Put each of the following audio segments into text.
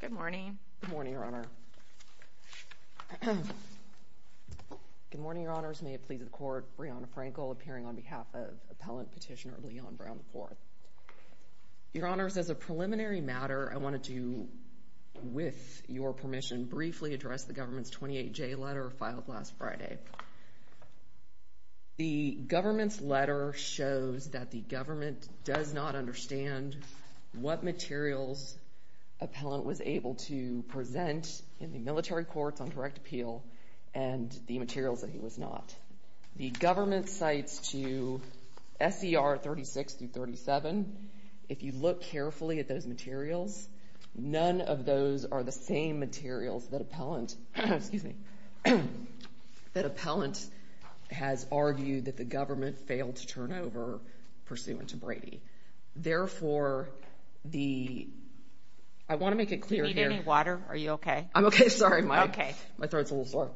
Good morning. Good morning, Your Honor. Good morning, Your Honors. May it please the Court, Breonna Frankel appearing on behalf of Appellant Petitioner Leon Brown, IV. Your Honors, as a preliminary matter, I wanted to, with your permission, briefly address the government's 28-J letter filed last Friday. The government's letter shows that the government does not understand what materials Appellant was able to present in the military courts on direct appeal and the materials that he was not. The government cites to S.E.R. 36-37. If you look carefully at those materials, none of those are the same materials that Appellant has argued that the government failed to turn over pursuant to Brady. Therefore, I want to make it clear here. Do you need any water? Are you okay? I'm okay. Sorry, my throat's a little sore.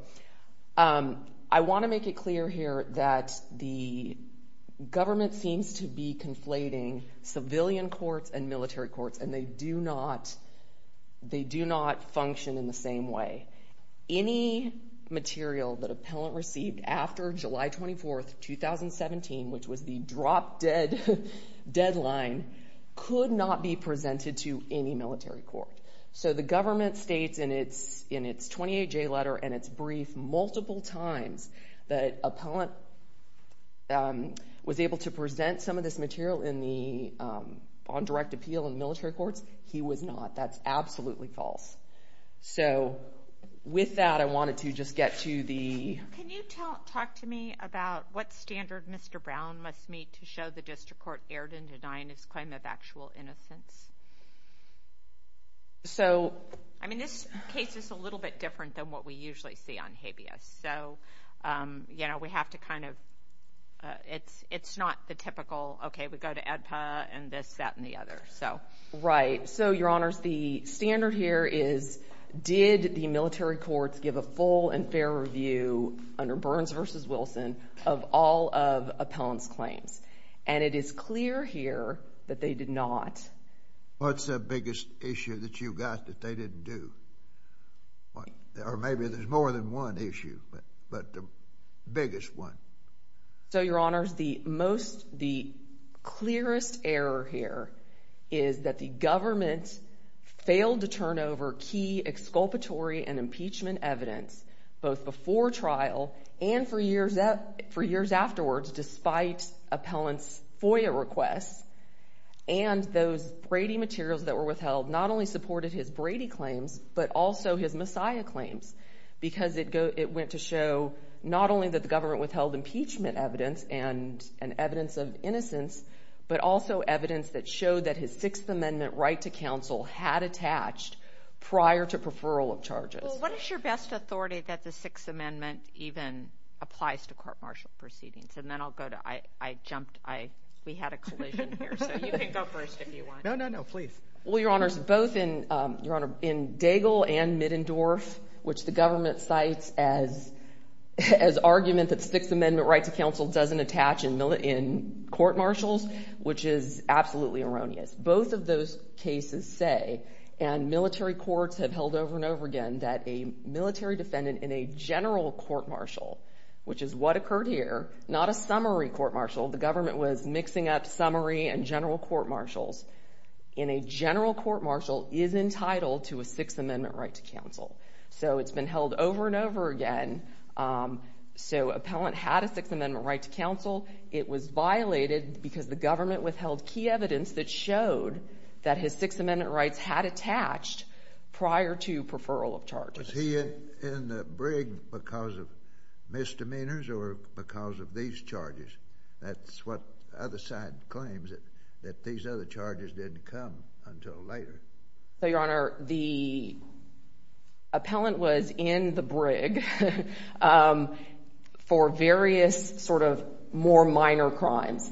I want to make it clear here that the government seems to be conflating civilian courts and military courts, and they do not function in the same way. Any material that Appellant received after July 24, 2017, which was the drop-dead deadline, could not be presented to any military court. So the government states in its 28-J letter and its brief multiple times that Appellant was able to present some of this material on direct appeal in military courts. He was not. That's absolutely false. So with that, I wanted to just get to the... Can you talk to me about what standard Mr. Brown must meet to show the district court erred in denying his claim of actual innocence? So... I mean, this case is a little bit different than what we usually see on habeas. So, you know, we have to kind of... It's not the typical, okay, we go to ADPA and this, that, and the other. Right. So, Your Honors, the standard here is did the military courts give a full and fair review under Burns v. Wilson of all of Appellant's claims? And it is clear here that they did not. What's the biggest issue that you got that they didn't do? Or maybe there's more than one issue, but the biggest one. So, Your Honors, the most, the clearest error here is that the government failed to turn over key exculpatory and impeachment evidence, both before trial and for years afterwards, despite Appellant's FOIA requests. And those Brady materials that were withheld not only supported his Brady claims, but also his Messiah claims, because it went to show not only that the government withheld impeachment evidence and evidence of innocence, but also evidence that showed that his Sixth Amendment right to counsel had attached prior to preferral of charges. Well, what is your best authority that the Sixth Amendment even applies to court martial proceedings? And then I'll go to, I jumped, we had a collision here, so you can go first if you want. No, no, no, please. Well, Your Honors, both in Daigle and Middendorf, which the government cites as argument that Sixth Amendment right to counsel doesn't attach in court martials, which is absolutely erroneous, both of those cases say, and military courts have held over and over again, that a military defendant in a general court martial, which is what occurred here, not a summary court martial, the government was mixing up summary and general court martials, in a general court martial is entitled to a Sixth Amendment right to counsel. So it's been held over and over again. So appellant had a Sixth Amendment right to counsel. It was violated because the government withheld key evidence that showed that his Sixth Amendment rights had attached prior to preferral of charges. Was he in the brig because of misdemeanors or because of these charges? That's what the other side claims, that these other charges didn't come until later. So, Your Honor, the appellant was in the brig for various sort of more minor crimes,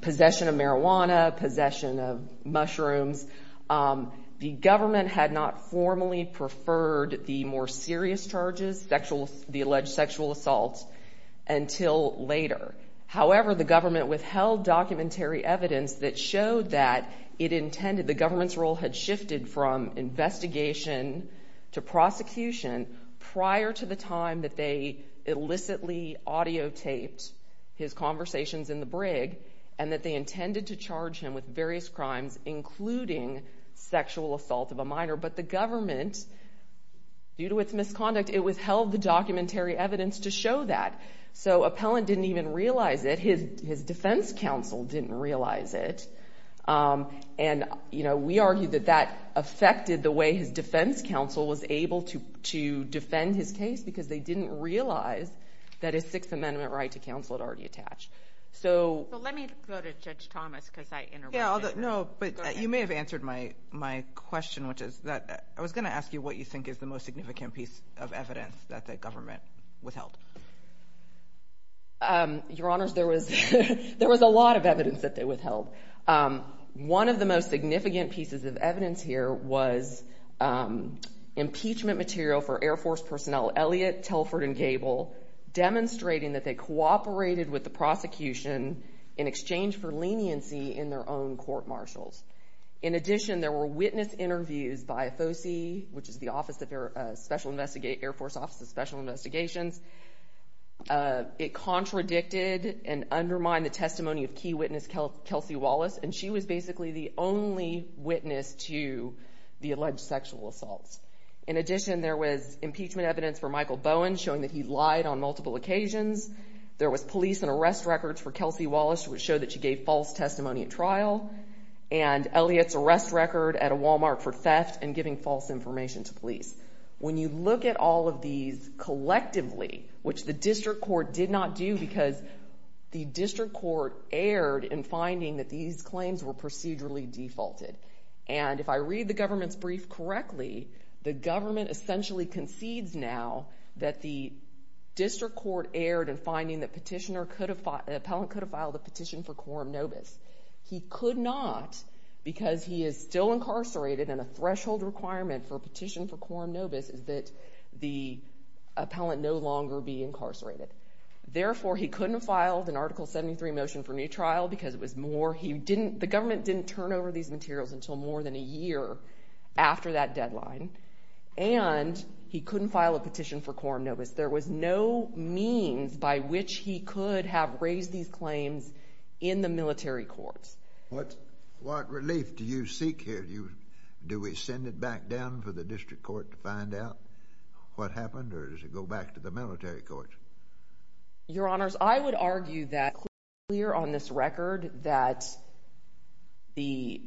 possession of marijuana, possession of mushrooms. The government had not formally preferred the more serious charges, the alleged sexual assaults, until later. However, the government withheld documentary evidence that showed that it intended, the government's role had shifted from investigation to prosecution prior to the time that they illicitly audiotaped his conversations in the brig, and that they intended to charge him with various crimes, including sexual assault of a minor. But the government, due to its misconduct, it withheld the documentary evidence to show that. So appellant didn't even realize it. His defense counsel didn't realize it. And, you know, we argue that that affected the way his defense counsel was able to defend his case because they didn't realize that his Sixth Amendment right to counsel had already attached. So let me go to Judge Thomas because I interrupted. Yeah, no, but you may have answered my question, which is that I was going to ask you what you think is the most significant piece of evidence that the government withheld. Your Honors, there was a lot of evidence that they withheld. One of the most significant pieces of evidence here was impeachment material for Air Force personnel, Elliot, Telford, and Gable, demonstrating that they cooperated with the prosecution in exchange for leniency in their own court-martials. In addition, there were witness interviews by FOSI, which is the Air Force Office of Special Investigations. It contradicted and undermined the testimony of key witness Kelsey Wallace, and she was basically the only witness to the alleged sexual assaults. In addition, there was impeachment evidence for Michael Bowen, showing that he lied on multiple occasions. There was police and arrest records for Kelsey Wallace, which showed that she gave false testimony at trial, and Elliot's arrest record at a Walmart for theft and giving false information to police. When you look at all of these collectively, which the district court did not do because the district court erred in finding that these claims were procedurally defaulted. And if I read the government's brief correctly, the government essentially concedes now that the district court erred in finding that an appellant could have filed a petition for quorum nobis. He could not because he is still incarcerated, and a threshold requirement for a petition for quorum nobis is that the appellant no longer be incarcerated. Therefore, he couldn't have filed an Article 73 motion for new trial because it was more— the government didn't turn over these materials until more than a year after that deadline, and he couldn't file a petition for quorum nobis. There was no means by which he could have raised these claims in the military courts. What relief do you seek here? Do we send it back down for the district court to find out what happened, or does it go back to the military courts? Your Honors, I would argue that it's clear on this record that the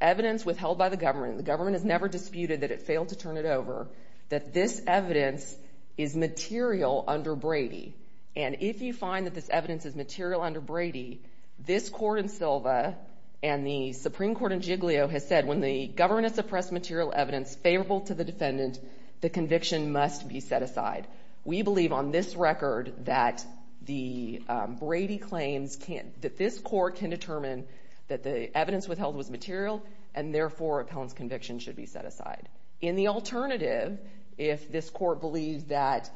evidence withheld by the government, and the government has never disputed that it failed to turn it over, that this evidence is material under Brady. And if you find that this evidence is material under Brady, this court in Silva and the Supreme Court in Giglio has said when the government has suppressed material evidence favorable to the defendant, the conviction must be set aside. We believe on this record that the Brady claims can't—that this court can determine that the evidence withheld was material, and therefore, appellant's conviction should be set aside. In the alternative, if this court believes that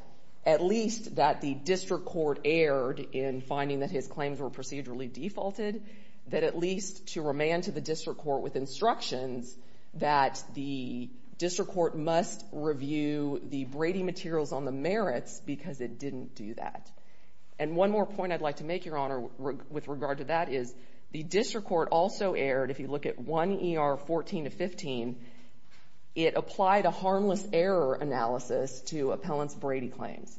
at least that the district court erred in finding that his claims were procedurally defaulted, that at least to remand to the district court with instructions that the district court must review the Brady materials on the merits because it didn't do that. And one more point I'd like to make, Your Honor, with regard to that is the district court also erred. If you look at 1 ER 14 to 15, it applied a harmless error analysis to appellant's Brady claims.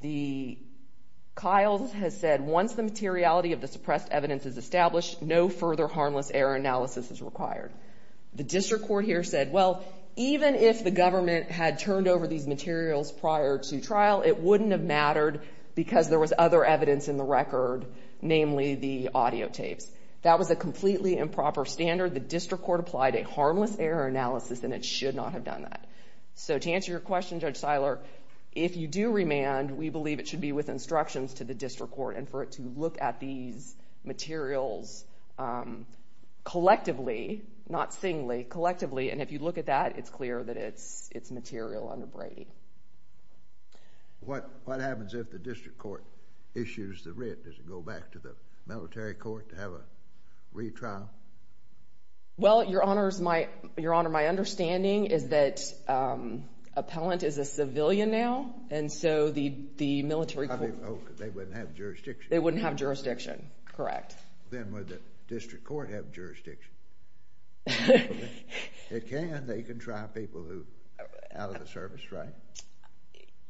The—Kiles has said once the materiality of the suppressed evidence is established, no further harmless error analysis is required. The district court here said, well, even if the government had turned over these materials prior to trial, it wouldn't have mattered because there was other evidence in the record, namely the audio tapes. That was a completely improper standard. The district court applied a harmless error analysis, and it should not have done that. So to answer your question, Judge Seiler, if you do remand, we believe it should be with instructions to the district court and for it to look at these materials collectively, not singly, collectively. And if you look at that, it's clear that it's material under Brady. What happens if the district court issues the writ? Does it go back to the military court to have a retrial? Well, Your Honor, my understanding is that appellant is a civilian now, and so the military court— They wouldn't have jurisdiction. They wouldn't have jurisdiction, correct. Then would the district court have jurisdiction? It can. They can try people who are out of the service, right?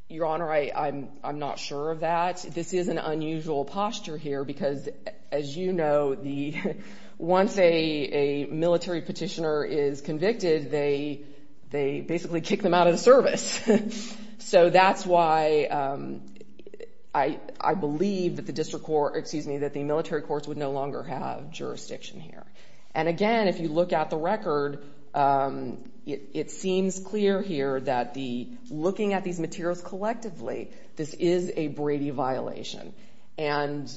Your Honor, I'm not sure of that. This is an unusual posture here because, as you know, once a military petitioner is convicted, they basically kick them out of the service. So that's why I believe that the military courts would no longer have jurisdiction here. And again, if you look at the record, it seems clear here that looking at these materials collectively, this is a Brady violation. And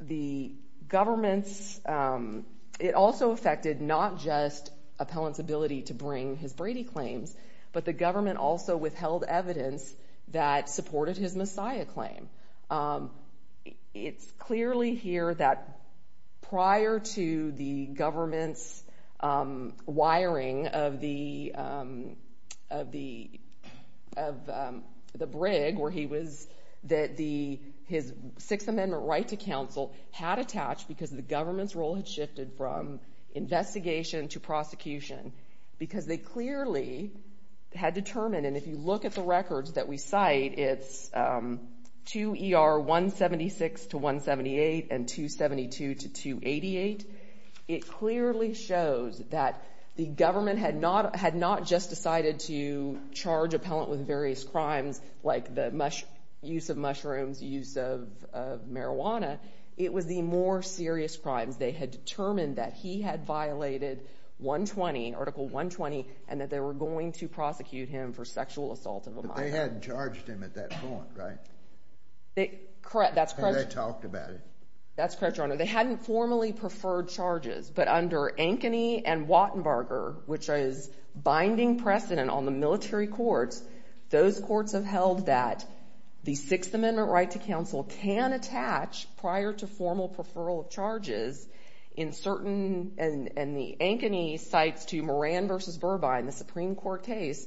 the government's—it also affected not just appellant's ability to bring his Brady claims, but the government also withheld evidence that supported his Messiah claim. It's clearly here that prior to the government's wiring of the brig where he was, that his Sixth Amendment right to counsel had attached because the government's role had shifted from investigation to prosecution because they clearly had determined, and if you look at the records that we cite, it's 2 ER 176 to 178 and 272 to 288. It clearly shows that the government had not just decided to charge appellant with various crimes, like the use of mushrooms, use of marijuana. It was the more serious crimes. They had determined that he had violated 120, Article 120, and that they were going to prosecute him for sexual assault of a minor. But they hadn't charged him at that point, right? Correct, that's correct. They hadn't talked about it. That's correct, Your Honor. They hadn't formally preferred charges, but under Ankeny and Wattenberger, which is binding precedent on the military courts, those courts have held that the Sixth Amendment right to counsel can attach prior to formal preferral of charges in certain, and the Ankeny cites to Moran v. Burbine, the Supreme Court case,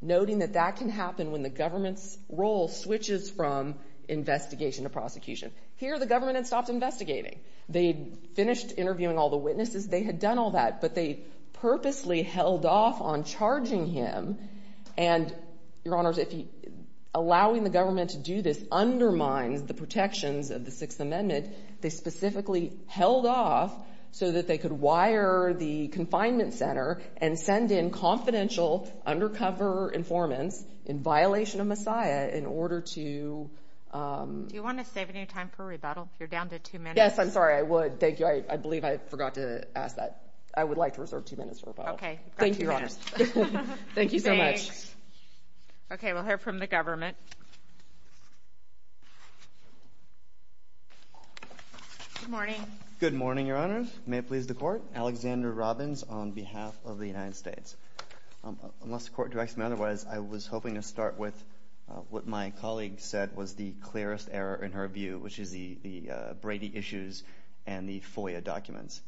noting that that can happen when the government's role switches from investigation to prosecution. Here the government had stopped investigating. They had finished interviewing all the witnesses. They had done all that, but they purposely held off on charging him, and, Your Honors, allowing the government to do this undermines the protections of the Sixth Amendment. They specifically held off so that they could wire the confinement center and send in confidential undercover informants in violation of Messiah in order to— Do you want to save any time for a rebuttal? You're down to two minutes. Yes, I'm sorry, I would. Thank you. I believe I forgot to ask that. Okay, you've got two minutes. Thank you so much. Okay, we'll hear from the government. Good morning. Good morning, Your Honors. May it please the Court. Alexander Robbins on behalf of the United States. Unless the Court directs me otherwise, I was hoping to start with what my colleague said was the clearest error in her view, which is the Brady issues and the FOIA documents.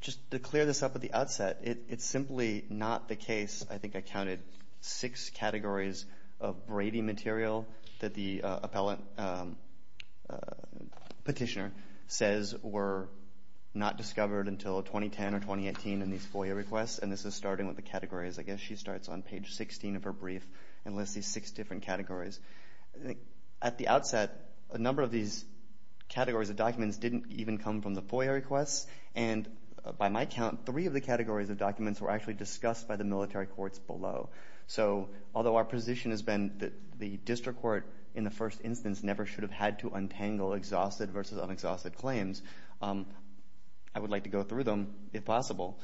Just to clear this up at the outset, it's simply not the case. I think I counted six categories of Brady material that the petitioner says were not discovered until 2010 or 2018 in these FOIA requests, and this is starting with the categories. I guess she starts on page 16 of her brief and lists these six different categories. At the outset, a number of these categories of documents didn't even come from the FOIA requests, and by my count, three of the categories of documents were actually discussed by the military courts below. So although our position has been that the district court in the first instance never should have had to untangle exhausted versus unexhausted claims, I would like to go through them if possible.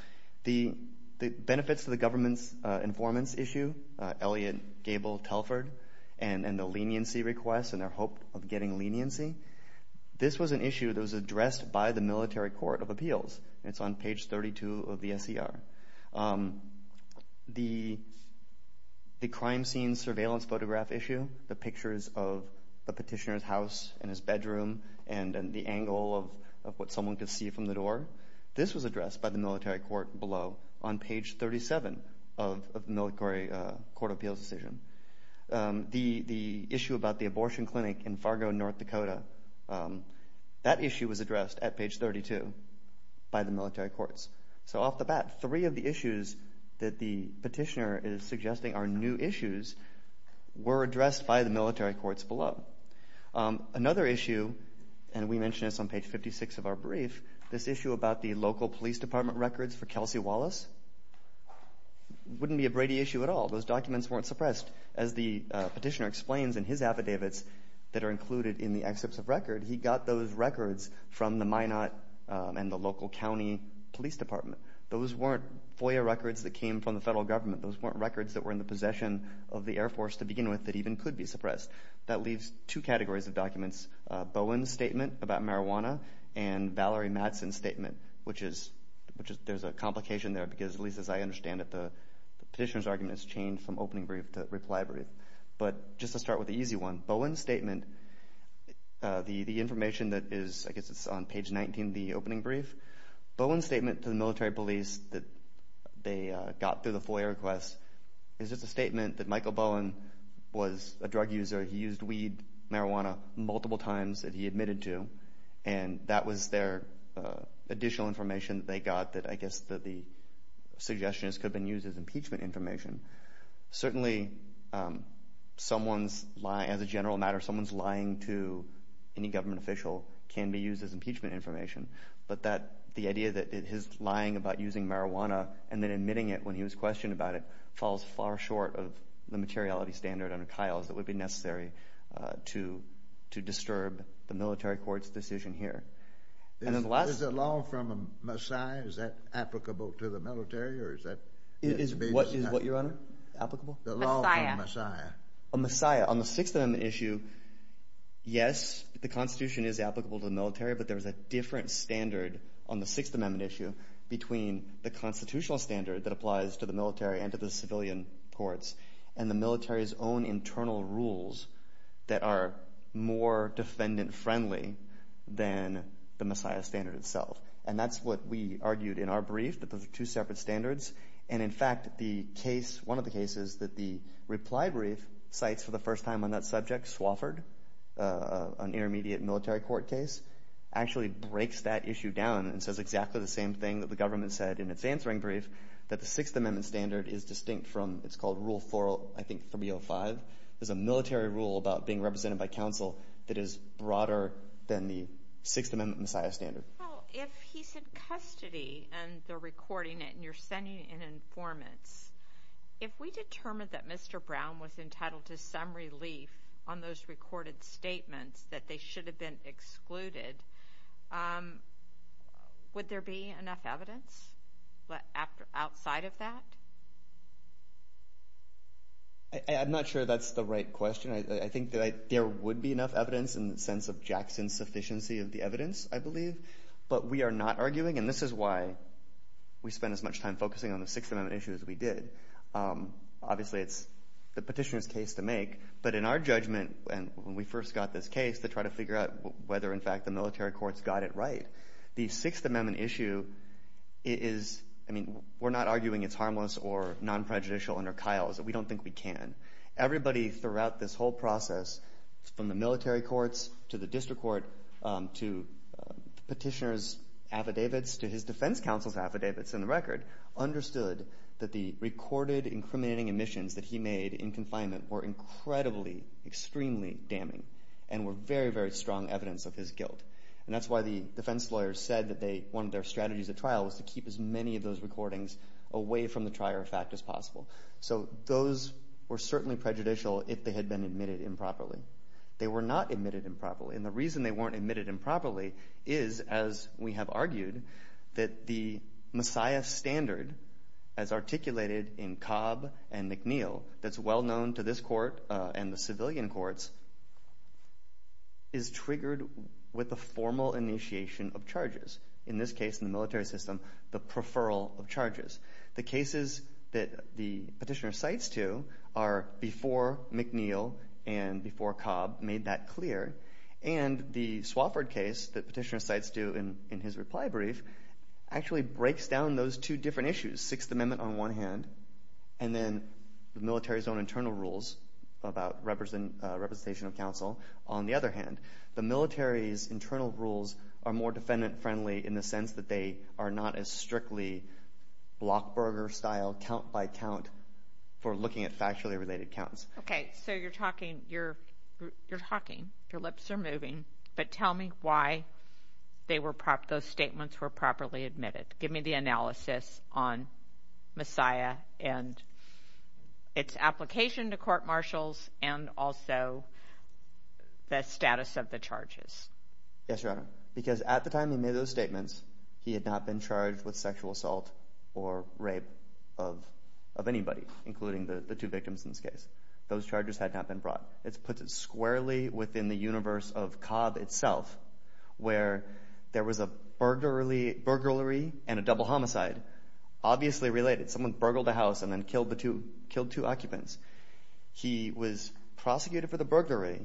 The benefits to the government's informants issue, Elliot, Gable, Telford, and the leniency requests and their hope of getting leniency, this was an issue that was addressed by the military court of appeals. It's on page 32 of the SCR. The crime scene surveillance photograph issue, the pictures of the petitioner's house and his bedroom and the angle of what someone could see from the door, this was addressed by the military court below on page 37 of the military court of appeals decision. The issue about the abortion clinic in Fargo, North Dakota, that issue was addressed at page 32 by the military courts. So off the bat, three of the issues that the petitioner is suggesting are new issues were addressed by the military courts below. Another issue, and we mentioned this on page 56 of our brief, this issue about the local police department records for Kelsey Wallace, wouldn't be a Brady issue at all. Those documents weren't suppressed. As the petitioner explains in his affidavits that are included in the excerpts of record, he got those records from the Minot and the local county police department. Those weren't FOIA records that came from the federal government. Those weren't records that were in the possession of the Air Force to begin with that even could be suppressed. That leaves two categories of documents, Bowen's statement about marijuana and Valerie Mattson's statement, which there's a complication there because, at least as I understand it, the petitioner's argument has changed from opening brief to reply brief. But just to start with the easy one, Bowen's statement, the information that is, I guess it's on page 19 of the opening brief, Bowen's statement to the military police that they got through the FOIA request is just a statement that Michael Bowen was a drug user. He used weed, marijuana, multiple times that he admitted to, and that was their additional information that they got that, I guess, the suggestion is could have been used as impeachment information. Certainly, as a general matter, someone's lying to any government official can be used as impeachment information, but the idea that his lying about using marijuana and then admitting it when he was questioned about it would be necessary to disturb the military court's decision here. Is the law from a messiah? Is that applicable to the military? Is what, Your Honor? The law from a messiah. A messiah. On the Sixth Amendment issue, yes, the Constitution is applicable to the military, but there is a different standard on the Sixth Amendment issue between the constitutional standard that applies to the military and to the civilian courts, and the military's own internal rules that are more defendant-friendly than the messiah standard itself. And that's what we argued in our brief, that those are two separate standards. And, in fact, one of the cases that the reply brief cites for the first time on that subject, Swofford, an intermediate military court case, actually breaks that issue down and says exactly the same thing that the government said in its answering brief, that the Sixth Amendment standard is distinct from, it's called Rule 405. There's a military rule about being represented by counsel that is broader than the Sixth Amendment messiah standard. Well, if he's in custody and they're recording it and you're sending an informant, if we determined that Mr. Brown was entitled to some relief on those recorded statements that they should have been excluded, would there be enough evidence outside of that? I'm not sure that's the right question. I think that there would be enough evidence in the sense of Jackson's sufficiency of the evidence, I believe. But we are not arguing, and this is why we spend as much time focusing on the Sixth Amendment issue as we did. Obviously, it's the petitioner's case to make. But in our judgment, when we first got this case, to try to figure out whether, in fact, the military courts got it right, the Sixth Amendment issue is, I mean, we're not arguing it's harmless or non-prejudicial under Kyle's. We don't think we can. Everybody throughout this whole process, from the military courts to the district court to petitioner's affidavits to his defense counsel's affidavits and the record, understood that the recorded incriminating admissions that he made in confinement were incredibly, extremely damning and were very, very strong evidence of his guilt. And that's why the defense lawyers said that one of their strategies at trial was to keep as many of those recordings away from the trier of fact as possible. So those were certainly prejudicial if they had been admitted improperly. They were not admitted improperly. And the reason they weren't admitted improperly is, as we have argued, that the Messiah standard, as articulated in Cobb and McNeill, that's well known to this court and the civilian courts, is triggered with the formal initiation of charges. In this case, in the military system, the preferral of charges. The cases that the petitioner cites to are before McNeill and before Cobb made that clear. And the Swafford case that petitioner cites to in his reply brief actually breaks down those two different issues, the Sixth Amendment on one hand, and then the military's own internal rules about representation of counsel. On the other hand, the military's internal rules are more defendant-friendly in the sense that they are not as strictly Blockburger-style, count-by-count for looking at factually related counts. Okay, so you're talking. Your lips are moving. But tell me why those statements were properly admitted. Give me the analysis on Messiah and its application to court-martials and also the status of the charges. Yes, Your Honor, because at the time he made those statements, he had not been charged with sexual assault or rape of anybody, including the two victims in this case. Those charges had not been brought. It puts it squarely within the universe of Cobb itself, where there was a burglary and a double homicide, obviously related. Someone burgled a house and then killed two occupants. He was prosecuted for the burglary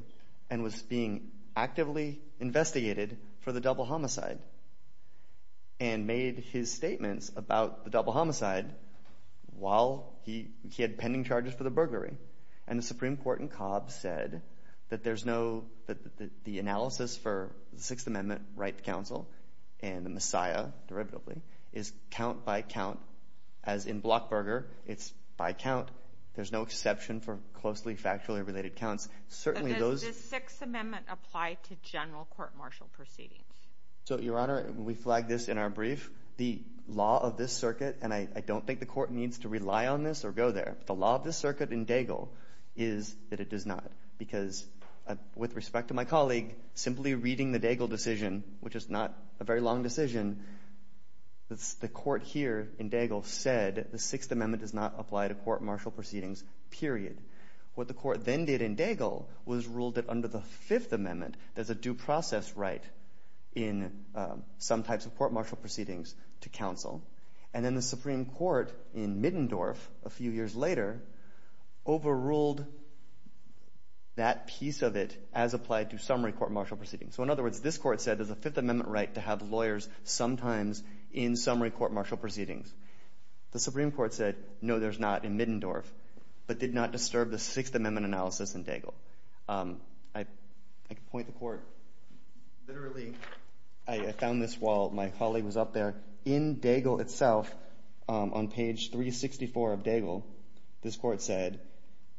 and was being actively investigated for the double homicide and made his statements about the double homicide while he had pending charges for the burglary. And the Supreme Court in Cobb said that the analysis for the Sixth Amendment, right to counsel, and the Messiah, derivatively, is count-by-count. As in Blockburger, it's by count. There's no exception for closely factually related counts. But does the Sixth Amendment apply to general court-martial proceedings? So, Your Honor, we flagged this in our brief. The law of this circuit, and I don't think the court needs to rely on this or go there, but the law of this circuit in Daigle is that it does not because, with respect to my colleague, simply reading the Daigle decision, which is not a very long decision, the court here in Daigle said the Sixth Amendment does not apply to court-martial proceedings, period. What the court then did in Daigle was ruled that under the Fifth Amendment there's a due process right in some types of court-martial proceedings to counsel. And then the Supreme Court, in Middendorf a few years later, overruled that piece of it as applied to summary court-martial proceedings. So, in other words, this court said there's a Fifth Amendment right to have lawyers sometimes in summary court-martial proceedings. The Supreme Court said, no, there's not, in Middendorf, but did not disturb the Sixth Amendment analysis in Daigle. I can point the court. Literally, I found this while my colleague was up there. In Daigle itself, on page 364 of Daigle, this court said,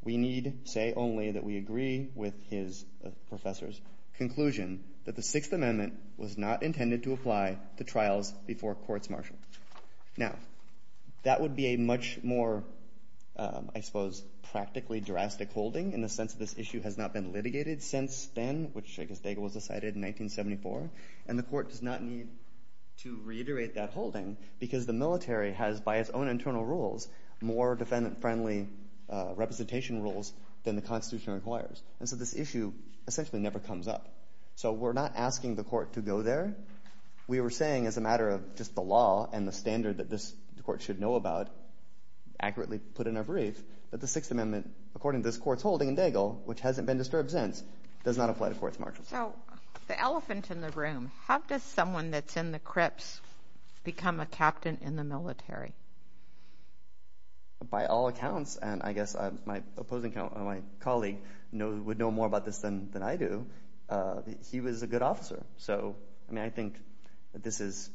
we need say only that we agree with his, the professor's, conclusion that the Sixth Amendment was not intended to apply to trials before court-martial. Now, that would be a much more, I suppose, practically drastic holding in the sense that this issue has not been litigated since then, which I guess Daigle was decided in 1974. And the court does not need to reiterate that holding because the military has, by its own internal rules, more defendant-friendly representation rules than the Constitution requires. And so this issue essentially never comes up. So we're not asking the court to go there. We were saying, as a matter of just the law and the standard that this court should know about, accurately put in our brief, that the Sixth Amendment, according to this court's holding in Daigle, which hasn't been disturbed since, does not apply to court-martial. So the elephant in the room, how does someone that's in the crypts become a captain in the military? By all accounts, and I guess my opposing colleague would know more about this than I do, he was a good officer. So I think this is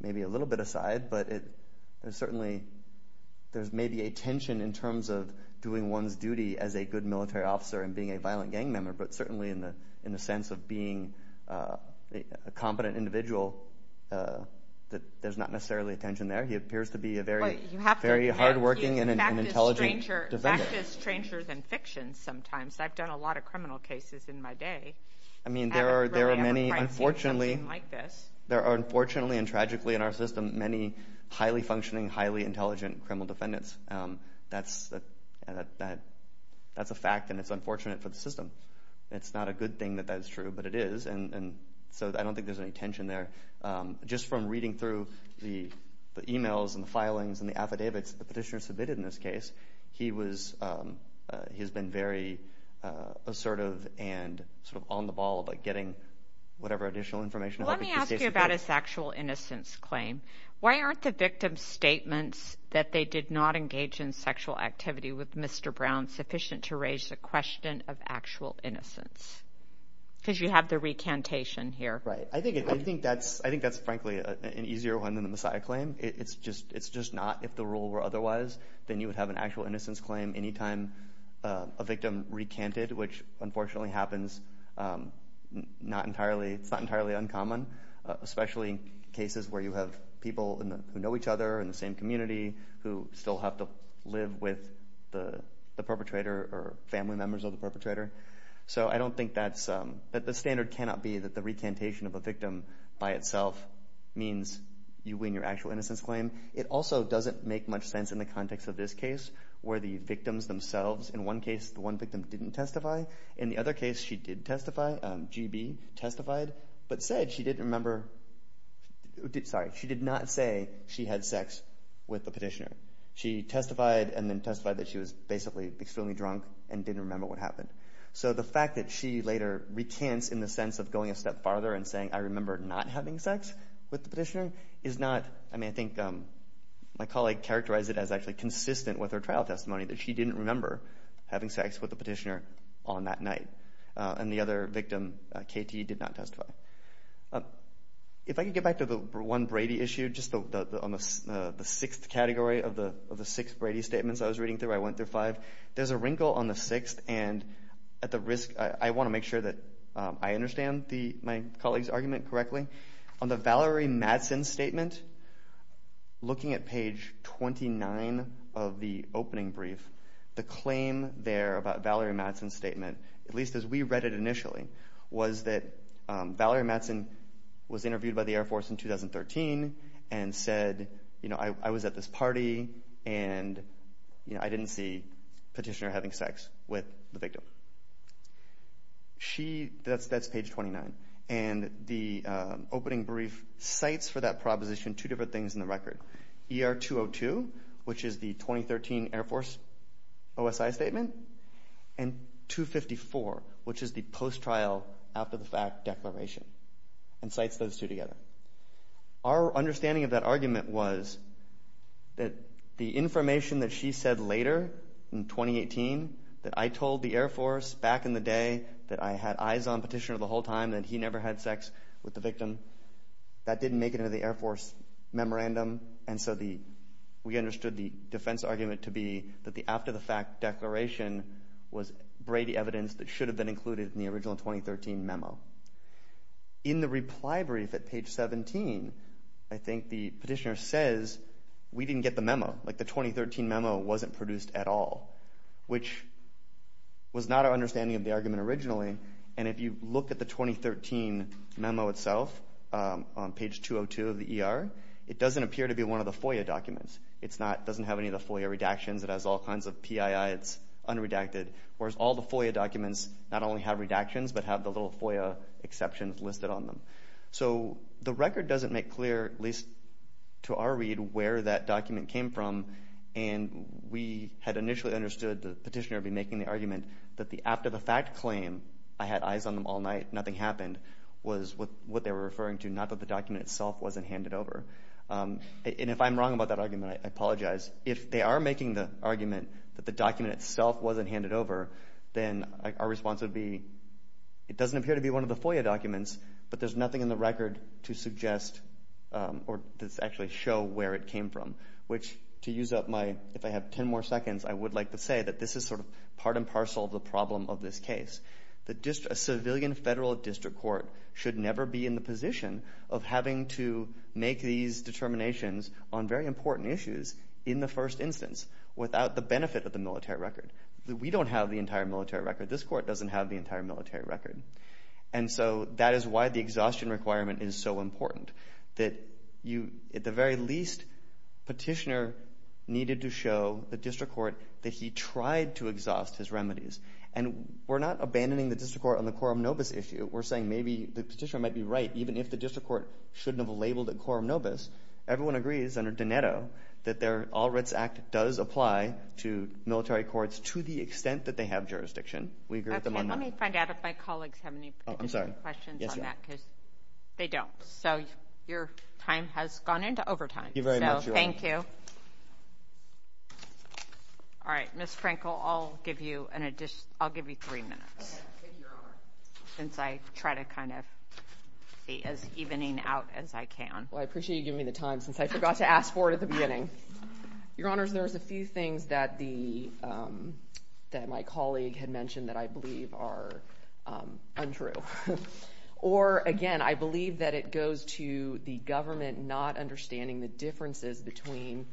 maybe a little bit aside, maybe as a good military officer and being a violent gang member, but certainly in the sense of being a competent individual, there's not necessarily attention there. He appears to be a very hardworking and intelligent defendant. You have to practice stranger than fiction sometimes. I've done a lot of criminal cases in my day. I mean, there are many, unfortunately, and tragically in our system, many highly functioning, highly intelligent criminal defendants. That's a fact, and it's unfortunate for the system. It's not a good thing that that's true, but it is, and so I don't think there's any tension there. Just from reading through the e-mails and the filings and the affidavits the petitioner submitted in this case, he has been very assertive and sort of on the ball about getting whatever additional information. Let me ask you about his sexual innocence claim. Why aren't the victim's statements that they did not engage in sexual activity with Mr. Brown sufficient to raise the question of actual innocence? Because you have the recantation here. Right. I think that's, frankly, an easier one than the Messiah claim. It's just not. If the rule were otherwise, then you would have an actual innocence claim any time a victim recanted, which unfortunately happens. It's not entirely uncommon, especially in cases where you have people who know each other in the same community who still have to live with the perpetrator or family members of the perpetrator. So I don't think that's—the standard cannot be that the recantation of a victim by itself means you win your actual innocence claim. It also doesn't make much sense in the context of this case where the victims themselves—in one case, the one victim didn't testify. In the other case, she did testify, G.B. testified, but said she didn't remember— sorry, she did not say she had sex with the petitioner. She testified and then testified that she was basically extremely drunk and didn't remember what happened. So the fact that she later recants in the sense of going a step farther and saying, I remember not having sex with the petitioner, is not— I mean, I think my colleague characterized it as actually consistent with her trial testimony that she didn't remember having sex with the petitioner on that night, and the other victim, K.T., did not testify. If I could get back to the one Brady issue, just on the sixth category of the six Brady statements I was reading through, I went through five. There's a wrinkle on the sixth, and at the risk— I want to make sure that I understand my colleague's argument correctly. On the Valerie Madsen statement, looking at page 29 of the opening brief, the claim there about Valerie Madsen's statement, at least as we read it initially, was that Valerie Madsen was interviewed by the Air Force in 2013 and said, you know, I was at this party, and I didn't see the petitioner having sex with the victim. She—that's page 29. And the opening brief cites for that proposition two different things in the record. ER-202, which is the 2013 Air Force OSI statement, and 254, which is the post-trial, after-the-fact declaration, and cites those two together. Our understanding of that argument was that the information that she said later in 2018 that I told the Air Force back in the day that I had eyes on petitioner the whole time, that he never had sex with the victim, that didn't make it into the Air Force memorandum. And so we understood the defense argument to be that the after-the-fact declaration was Brady evidence that should have been included in the original 2013 memo. In the reply brief at page 17, I think the petitioner says we didn't get the memo, like the 2013 memo wasn't produced at all, which was not our understanding of the argument originally. And if you look at the 2013 memo itself on page 202 of the ER, it doesn't appear to be one of the FOIA documents. It doesn't have any of the FOIA redactions. It has all kinds of PII. It's unredacted, whereas all the FOIA documents not only have redactions but have the little FOIA exceptions listed on them. So the record doesn't make clear, at least to our read, where that document came from, and we had initially understood the petitioner would be making the argument that the after-the-fact claim, I had eyes on them all night, nothing happened, was what they were referring to, not that the document itself wasn't handed over. And if I'm wrong about that argument, I apologize. If they are making the argument that the document itself wasn't handed over, then our response would be it doesn't appear to be one of the FOIA documents, but there's nothing in the record to suggest or to actually show where it came from, which, to use up my, if I have ten more seconds, I would like to say that this is sort of part and parcel of the problem of this case. A civilian federal district court should never be in the position of having to make these determinations on very important issues in the first instance without the benefit of the military record. We don't have the entire military record. This court doesn't have the entire military record. And so that is why the exhaustion requirement is so important, that you, at the very least, petitioner needed to show the district court that he tried to exhaust his remedies. And we're not abandoning the district court on the Coram Nobis issue. We're saying maybe the petitioner might be right, even if the district court shouldn't have labeled it Coram Nobis. Everyone agrees under Doneto that their All Wrets Act does apply to military courts to the extent that they have jurisdiction. We agree with them on that. Okay. Let me find out if my colleagues have any particular questions on that. I'm sorry. Yes, Your Honor. Because they don't. So your time has gone into overtime. Thank you very much, Your Honor. So thank you. All right. Ms. Frankel, I'll give you three minutes. Okay. Thank you, Your Honor. Since I try to kind of be as evening out as I can. Well, I appreciate you giving me the time since I forgot to ask for it at the beginning. Your Honors, there's a few things that my colleague had mentioned that I believe are untrue. Or, again, I believe that it goes to the government not understanding the differences between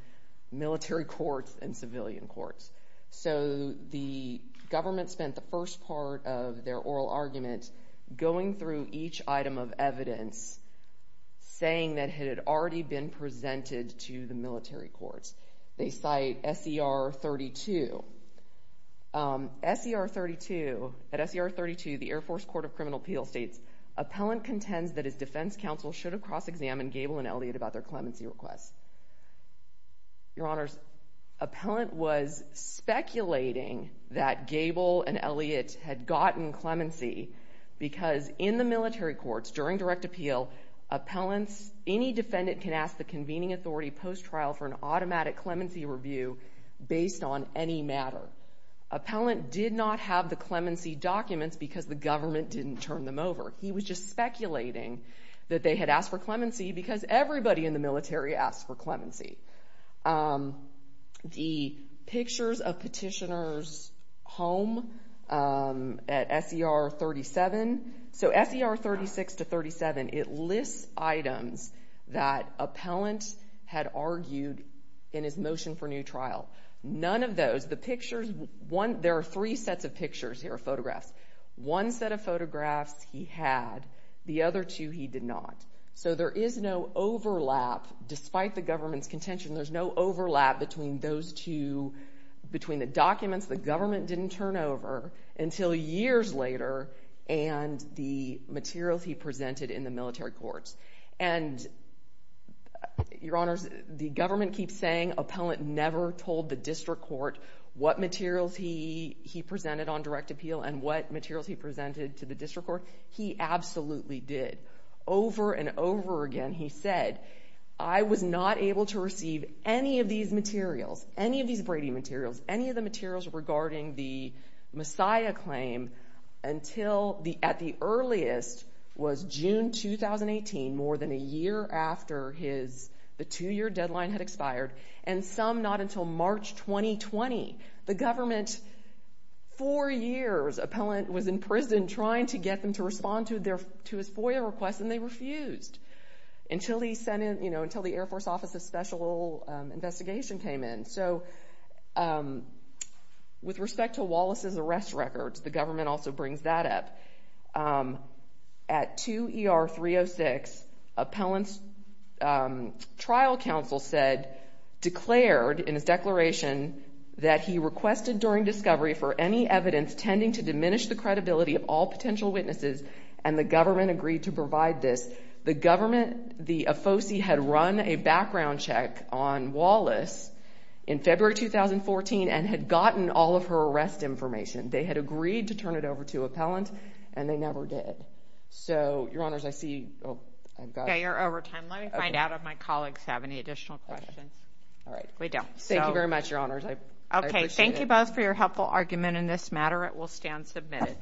military courts and civilian courts. So the government spent the first part of their oral argument going through each item of evidence saying that it had already been presented to the military courts. They cite S.E.R. 32. S.E.R. 32, at S.E.R. 32, the Air Force Court of Criminal Appeal states, Appellant contends that his defense counsel should have cross-examined Gable and Elliott about their clemency requests. Your Honors, Appellant was speculating that Gable and Elliott had gotten clemency because in the military courts, during direct appeal, appellants, any defendant can ask the convening authority post-trial for an automatic clemency review based on any matter. Appellant did not have the clemency documents because the government didn't turn them over. He was just speculating that they had asked for clemency because everybody in the military asks for clemency. The pictures of Petitioner's home at S.E.R. 37, so S.E.R. 36 to 37, it lists items that Appellant had argued in his motion for new trial. None of those, the pictures, there are three sets of pictures here, photographs. One set of photographs he had, the other two he did not. So there is no overlap. Despite the government's contention, there's no overlap between those two, between the documents the government didn't turn over until years later and the materials he presented in the military courts. And, Your Honors, the government keeps saying Appellant never told the district court what materials he presented on direct appeal and what materials he presented to the district court. He absolutely did. Over and over again he said, I was not able to receive any of these materials, any of these Brady materials, any of the materials regarding the Messiah claim until, at the earliest, was June 2018, more than a year after the two-year deadline had expired, and some not until March 2020. The government, for years, Appellant was in prison trying to get them to respond to his FOIA request, and they refused until the Air Force Office's special investigation came in. So with respect to Wallace's arrest records, the government also brings that up. At 2 ER 306, Appellant's trial counsel said, declared in his declaration, that he requested during discovery for any evidence tending to diminish the credibility of all potential witnesses, and the government agreed to provide this. The government, the AFOSI, had run a background check on Wallace in February 2014 and had gotten all of her arrest information. They had agreed to turn it over to Appellant, and they never did. So, Your Honors, I see you. Okay, you're over time. Let me find out if my colleagues have any additional questions. All right. Thank you very much, Your Honors. I appreciate it. Okay, thank you both for your helpful argument in this matter. It will stand submitted.